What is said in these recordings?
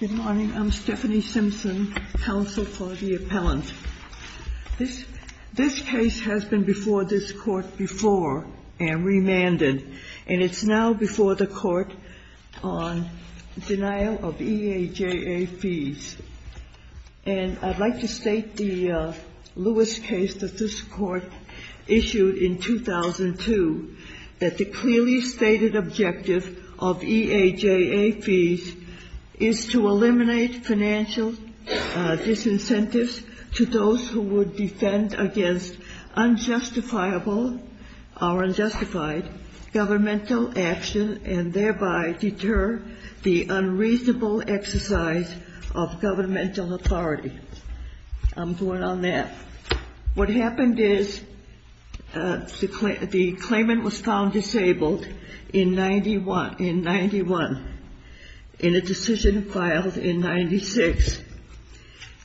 Good morning. I'm Stephanie Simpson, counsel for the appellant. This case has been before this court before and remanded, and it's now before the court on denial of EAJA fees. And I'd like to state the Lewis case that this court issued in 2002, that the clearly stated objective of EAJA fees is to eliminate financial disincentives to those who would defend against unjustifiable or unjustified governmental action and thereby deter the unreasonable exercise of governmental authority. I'm going on that. What happened is the claimant was found disabled in 1991 in a decision filed in 1996.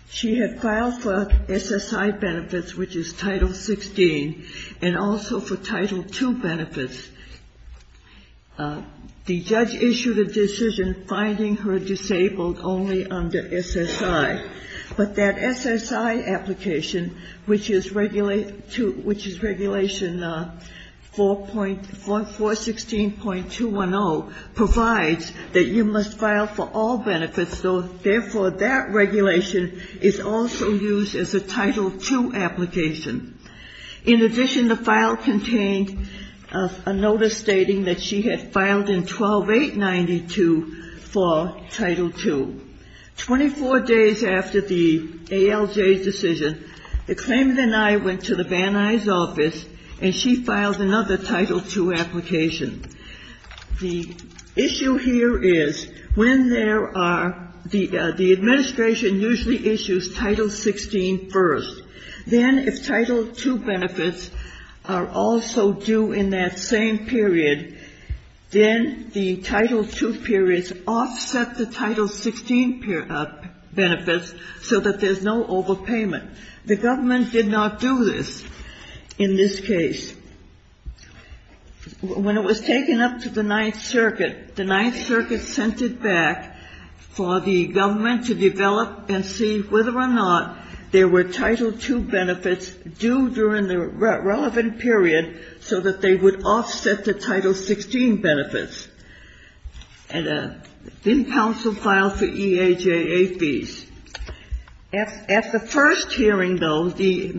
She had filed for SSI benefits, which is Title XVI, and also for Title II benefits. The judge issued a decision finding her disabled only under SSI. But that SSI application, which is Regulation 416.210, provides that you must file for all benefits, so therefore that regulation is also used as a Title II application. In addition, the file contained a notice stating that she had filed in 12-892 for Title II. Twenty-four days after the ALJ decision, the claimant and I went to the Van Nuys office, and she filed another Title II application. The issue here is when there are the administration usually issues Title XVI first. Then if Title II benefits are also due in that same period, then the Title II periods offset the Title XVI benefits so that there's no overpayment. The government did not do this in this case. When it was taken up to the Ninth Circuit, the Ninth Circuit sent it back for the government to develop and see whether or not there were Title II benefits due during the relevant period so that they would offset the Title XVI benefits. And then counsel filed for EAJA fees. At the first hearing, though, the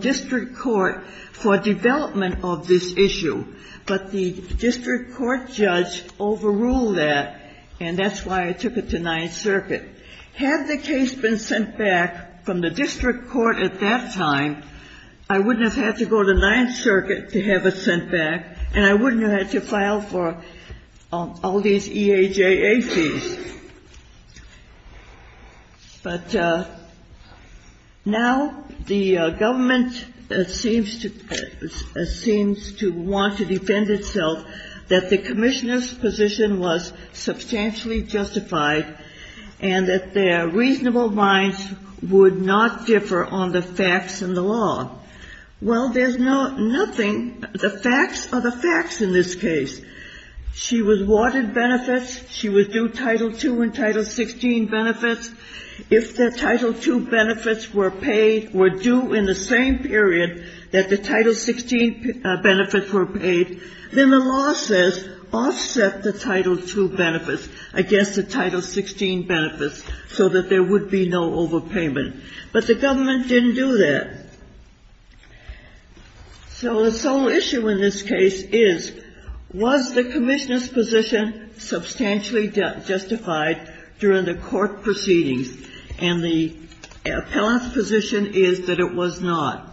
district court for development of this issue, but the district court judge overruled that, and that's why it took it to Ninth Circuit. Had the case been sent back from the district court at that time, I wouldn't have had to go to Ninth Circuit to have it sent back, and I wouldn't have had to file for all these EAJA fees. But now the government seems to want to defend itself that the commissioner's position was substantially justified and that their reasonable minds would not differ on the facts in the law. Well, there's nothing — the facts are the facts in this case. She was talking about Title II and Title XVI benefits. If the Title II benefits were paid — were due in the same period that the Title XVI benefits were paid, then the law says offset the Title II benefits against the Title XVI benefits so that there would be no overpayment. But the government didn't do that. So the sole issue in this case is, was the commissioner's position substantially justified during the court proceedings? And the appellant's position is that it was not.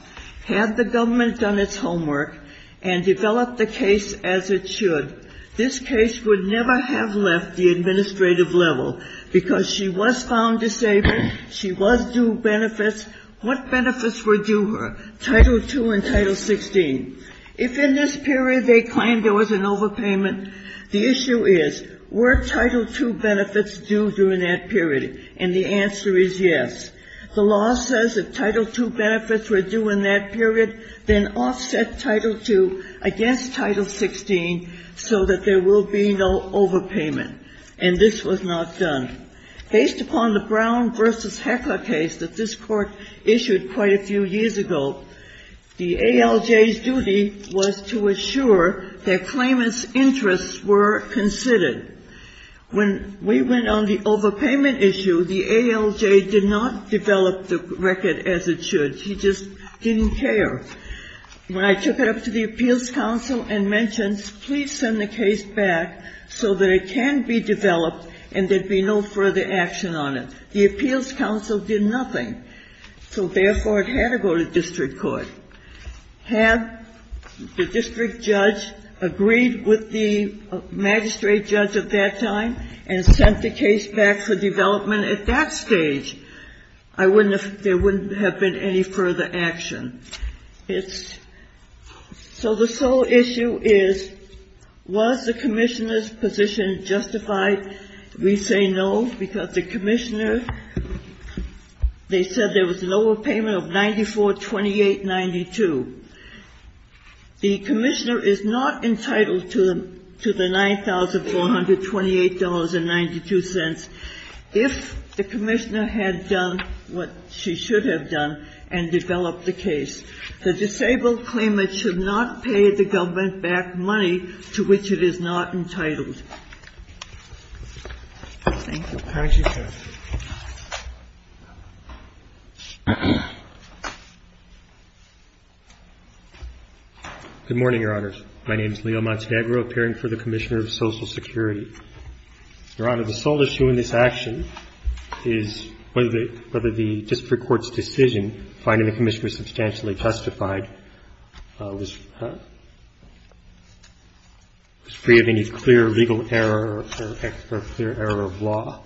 Had the government done its homework and developed the case as it should, this case would never have left the administrative level, because she was found disabled, she was due benefits. What benefits were due her, Title II and Title XVI? If in this period they claimed there was an overpayment, the issue is, were Title II benefits due during that period? And the answer is yes. The law says if Title II benefits were due in that period, then offset Title II against Title XVI so that there will be no overpayment. And this was not done. Based upon the Brown v. Heckler case that this Court issued quite a few years ago, the ALJ's duty was to assure that claimant's interests were considered. When we went on the overpayment issue, the ALJ did not develop the record as it should. He just didn't care. When I took it up to the Appeals Council and mentioned, please send the case back so that it can be developed and there'd be no further action on it, the district judge agreed with the magistrate judge at that time and sent the case back for development. At that stage, I wouldn't have, there wouldn't have been any further action. It's, so the sole issue is, was the Commissioner's position justified? We say no, because the Commissioner, they said there was an overpayment of $9,428.92. The Commissioner is not entitled to the $9,428.92 if the Commissioner had done what she should have done and developed the case. The disabled claimant should not pay the government back money to which it is not entitled. Thank you. Thank you. Good morning, Your Honors. My name is Leo Montiagro, appearing for the Commissioner of Social Security. Your Honor, the sole issue in this action is whether the district court's decision finding the Commissioner substantially justified was free of any clear legal error or clear error of law.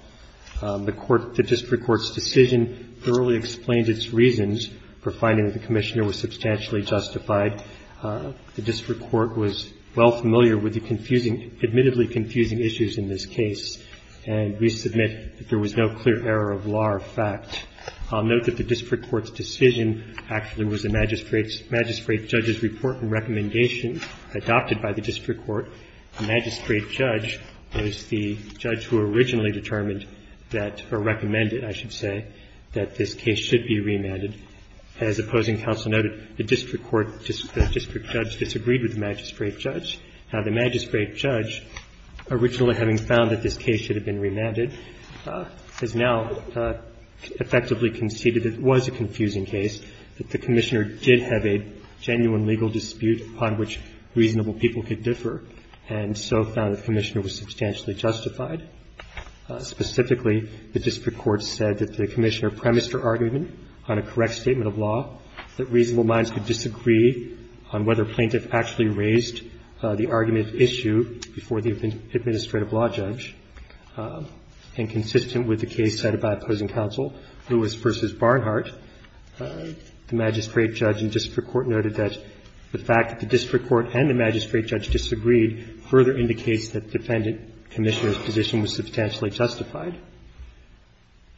The court, the district court's decision thoroughly explains its reasons for finding that the Commissioner was substantially justified. The district court was well familiar with the confusing, admittedly confusing issues in this case, and we submit that there was no clear error of law or fact. I'll note that the district court's decision actually was a magistrate's, magistrate judge was the judge who originally determined that, or recommended, I should say, that this case should be remanded. As opposing counsel noted, the district court, the district judge disagreed with the magistrate judge. Now, the magistrate judge, originally having found that this case should have been remanded, has now effectively conceded that it was a confusing case, that the Commissioner did have a genuine legal dispute upon which reasonable people could differ, and so found the Commissioner was substantially justified. Specifically, the district court said that the Commissioner premised her argument on a correct statement of law, that reasonable minds could disagree on whether a plaintiff actually raised the argument issue before the administrative law judge. And consistent with the case cited by opposing counsel, Lewis v. Barnhart, the magistrate judge and district court noted that the fact that the district court and the magistrate judge disagreed further indicates that the defendant Commissioner's position was substantially justified.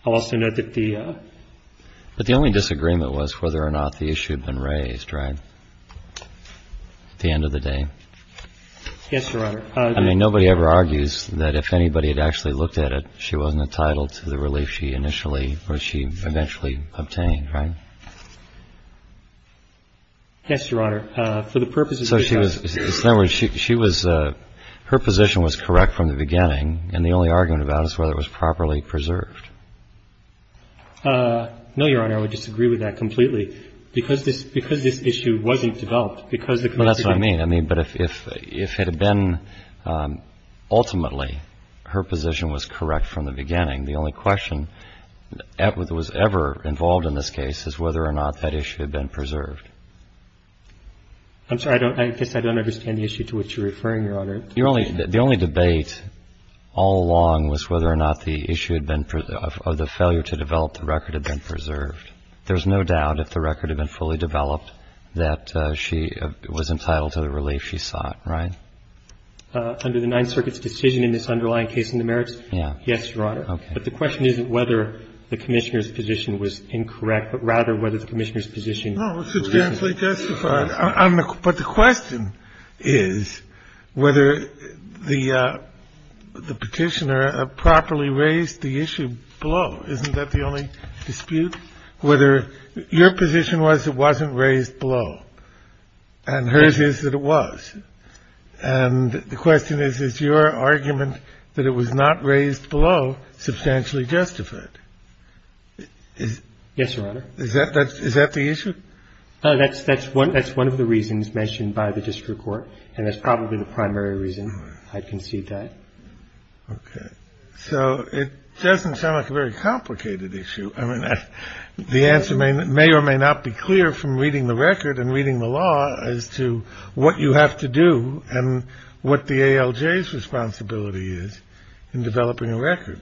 I'll also note that the ---- But the only disagreement was whether or not the issue had been raised, right, at the end of the day? Yes, Your Honor. I mean, nobody ever argues that if anybody had actually looked at it, she wasn't entitled to the relief she initially or she eventually obtained, right? Yes, Your Honor. For the purposes of this case ---- So she was ---- in other words, she was ---- her position was correct from the beginning, and the only argument about it is whether it was properly preserved. No, Your Honor. I would disagree with that completely, because this ---- because this issue wasn't developed, because the Commissioner ---- Well, that's what I mean. I mean, but if ---- if it had been ultimately her position was correct from the beginning, the only question that was ever involved in this case is whether or not that issue had been preserved. I'm sorry. I don't ---- I guess I don't understand the issue to which you're referring, Your Honor. Your only ---- the only debate all along was whether or not the issue had been ---- or the failure to develop the record had been preserved. There's no doubt if the record had been fully developed that she was entitled to the relief she sought, right? Under the Ninth Circuit's decision in this underlying case in the merits? Yeah. Yes, Your Honor. Okay. But the question isn't whether the Commissioner's position was incorrect, but rather whether the Commissioner's position ---- No, it's substantially justified. But the question is whether the Petitioner properly raised the issue below. Isn't that the only dispute? Whether your position was it wasn't raised below, and hers is that it was. And the question is, is your argument that it was not raised below substantially justified? Yes, Your Honor. Is that the issue? That's one of the reasons mentioned by the district court. And that's probably the primary reason I'd concede that. Okay. So it doesn't sound like a very complicated issue. I mean, the answer may or may not be clear from reading the record and reading the law as to what you have to do and what the ALJ's responsibility is in developing a record,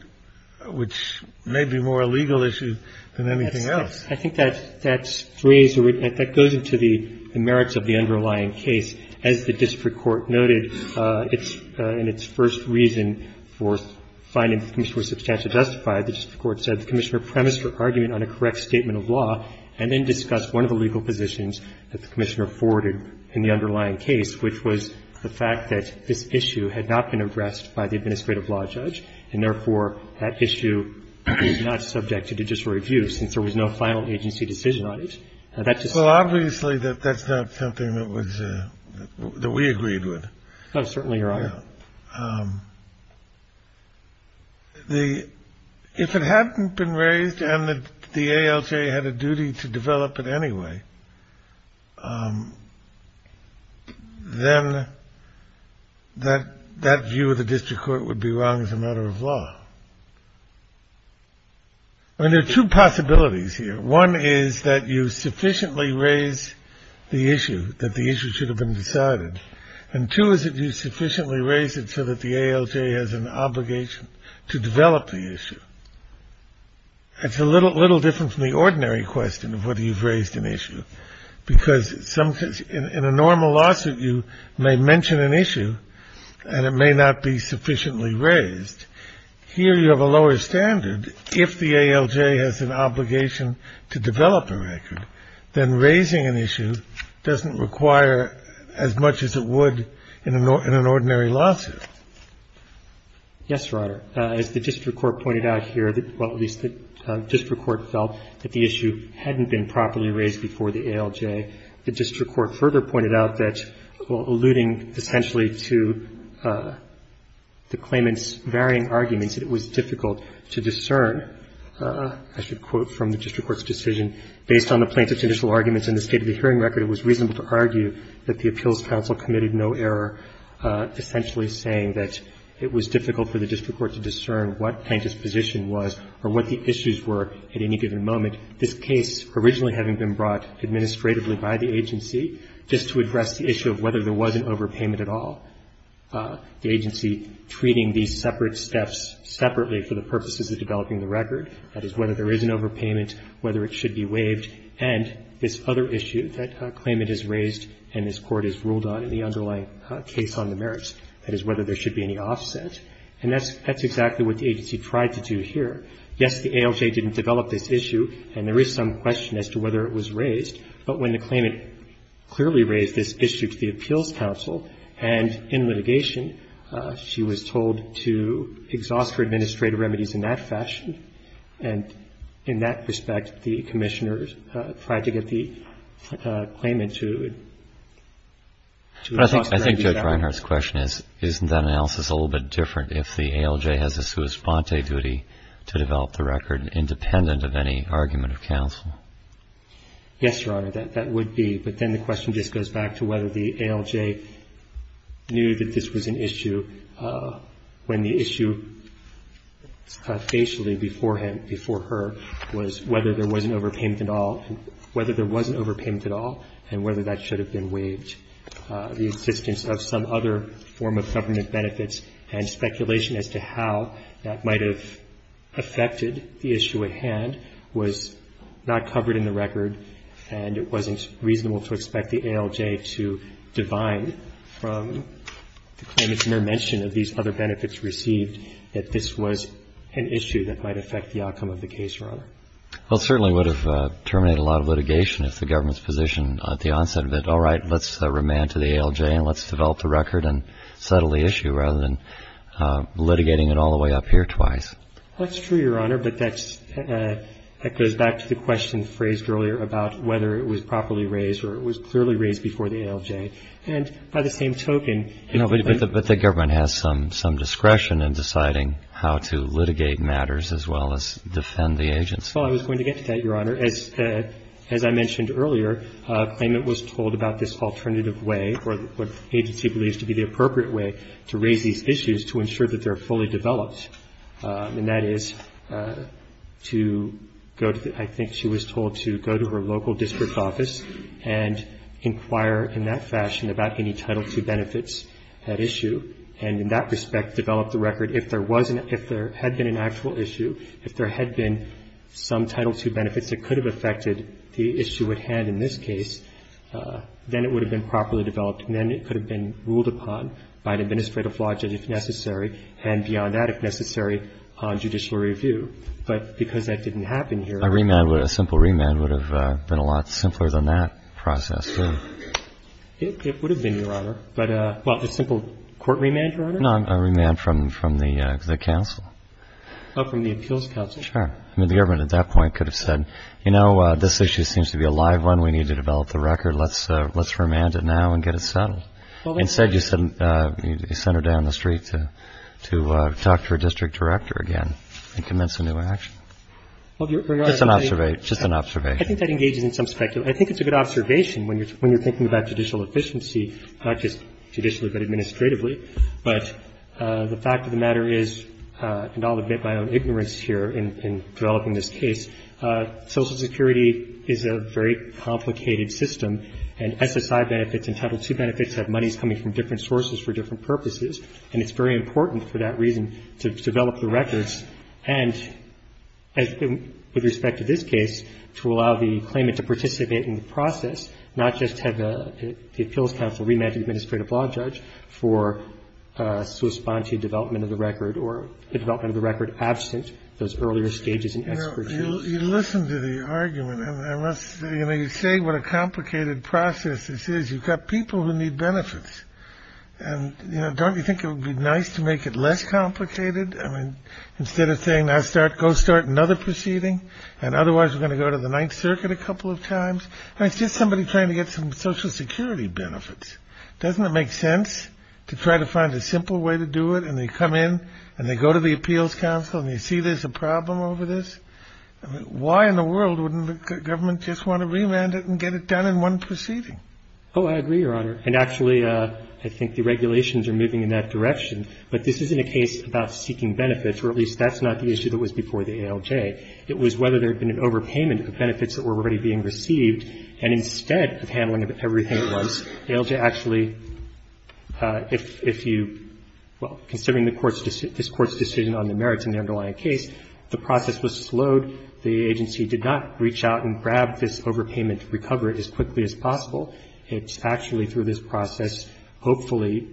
which may be more a legal issue than anything else. I think that's phrased or that goes into the merits of the underlying case. As the district court noted in its first reason for finding that the Commissioner was substantially justified, the district court said the Commissioner premised on a correct statement of law, and then discussed one of the legal positions that the Commissioner forwarded in the underlying case, which was the fact that this issue had not been addressed by the administrative law judge, and therefore that issue was not subject to judicial review since there was no final agency decision on it. Well, obviously, that's not something that we agreed with. Oh, certainly, Your Honor. If it hadn't been raised and that the ALJ had a duty to develop it anyway, then that view of the district court would be wrong as a matter of law. I mean, there are two possibilities here. One is that you sufficiently raise the issue, that the issue should have been decided. And two is that you sufficiently raise it so that the ALJ has an obligation to develop the issue. It's a little different from the ordinary question of whether you've raised an issue, because in a normal lawsuit you may mention an issue and it may not be sufficiently raised. Here you have a lower standard. If the ALJ has an obligation to develop a record, then raising an issue doesn't require as much as it would in an ordinary lawsuit. Yes, Your Honor. As the district court pointed out here, well, at least the district court felt that the issue hadn't been properly raised before the ALJ. The district court further pointed out that, alluding essentially to the claimant's varying arguments, that it was difficult to discern, I should quote from the district court's decision, based on the plaintiff's initial arguments in the state of the hearing record, it was reasonable to argue that the appeals counsel committed no error, essentially saying that it was difficult for the district court to discern what plaintiff's position was or what the issues were at any given moment. This case originally having been brought administratively by the agency, just to address the issue of whether there was an overpayment at all, the agency treating these separate steps separately for the purposes of developing the record, that is, whether there is an overpayment, whether it should be waived, and this other issue that claimant has raised and this Court has ruled on in the underlying case on the merits, that is, whether there should be any offset. And that's exactly what the agency tried to do here. Yes, the ALJ didn't develop this issue, and there is some question as to whether it was raised, but when the claimant clearly raised this issue to the appeals counsel, and in litigation, she was told to exhaust her administrative remedies in that fashion, and in that respect, the Commissioner tried to get the claimant to exhaust her remedies that way. But I think Judge Reinhart's question is, isn't that analysis a little bit different if the ALJ has a sua sponte duty to develop the record independent of any argument of counsel? Yes, Your Honor, that would be. But then the question just goes back to whether the ALJ knew that this was an issue when the issue spatially before him, before her, was whether there was an overpayment at all, whether there was an overpayment at all, and whether that should have been waived. The existence of some other form of government benefits and speculation as to how that might have affected the issue at hand was not covered in the record, and it wasn't reasonable to expect the ALJ to divine from the claimant's mere mention of these other benefits received that this was an issue that might affect the outcome of the case, Your Honor. Well, it certainly would have terminated a lot of litigation if the government's position at the onset of it, all right, let's remand to the ALJ and let's develop the record and settle the issue rather than litigating it all the way up here twice. That's true, Your Honor, but that goes back to the question phrased earlier about whether it was properly raised or it was clearly raised before the ALJ. And by the same token ---- But the government has some discretion in deciding how to litigate matters as well as defend the agency. Well, I was going to get to that, Your Honor. As I mentioned earlier, a claimant was told about this alternative way or what the agency believes to be the appropriate way to raise these issues to ensure that they are fully developed. And that is to go to the ---- I think she was told to go to her local district office and inquire in that fashion about any Title II benefits at issue and in that respect develop the record. If there was an ---- if there had been an actual issue, if there had been some Title II benefits that could have affected the issue at hand in this case, then it would have been properly developed and then it could have been ruled upon by an administrative logic if necessary and beyond that if necessary on judicial review. But because that didn't happen here ---- A remand, a simple remand would have been a lot simpler than that process, too. It would have been, Your Honor. But a simple court remand, Your Honor? No, a remand from the counsel. Oh, from the appeals counsel? Sure. I mean, the government at that point could have said, you know, this issue seems to be a live one. We need to develop the record. Let's remand it now and get it settled. Instead, you send her down the street to talk to her district director again and commence a new action. Just an observation. I think that engages in some speculation. I think it's a good observation when you're thinking about judicial efficiency, not just judicially but administratively. But the fact of the matter is, and I'll admit my own ignorance here in developing this case, Social Security is a very complicated system and SSI benefits and Title II benefits have monies coming from different sources for different purposes, and it's very important for that reason to develop the records and, with respect to this case, to allow the claimant to participate in the process, not just have the appeals counsel remand the administrative law judge for to respond to development of the record or the development of the record absent those earlier stages in expert You say what a complicated process this is. You've got people who need benefits. And, you know, don't you think it would be nice to make it less complicated? I mean, instead of saying I start, go start another proceeding. And otherwise we're going to go to the Ninth Circuit a couple of times. It's just somebody trying to get some Social Security benefits. Doesn't it make sense to try to find a simple way to do it? And they come in and they go to the appeals counsel and you see there's a problem over this. Why in the world wouldn't the government just want to remand it and get it done in one proceeding? Oh, I agree, Your Honor. And actually, I think the regulations are moving in that direction. But this isn't a case about seeking benefits, or at least that's not the issue that was before the ALJ. It was whether there had been an overpayment of benefits that were already being received, and instead of handling everything at once, ALJ actually, if you – well, considering the Court's – this Court's decision on the merits in the underlying case, the process was slowed. The agency did not reach out and grab this overpayment to recover it as quickly as possible. It's actually through this process hopefully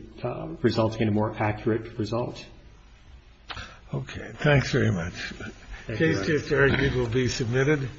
resulting in a more accurate result. Thanks very much. Thank you, Your Honor. The case is very good. It will be submitted.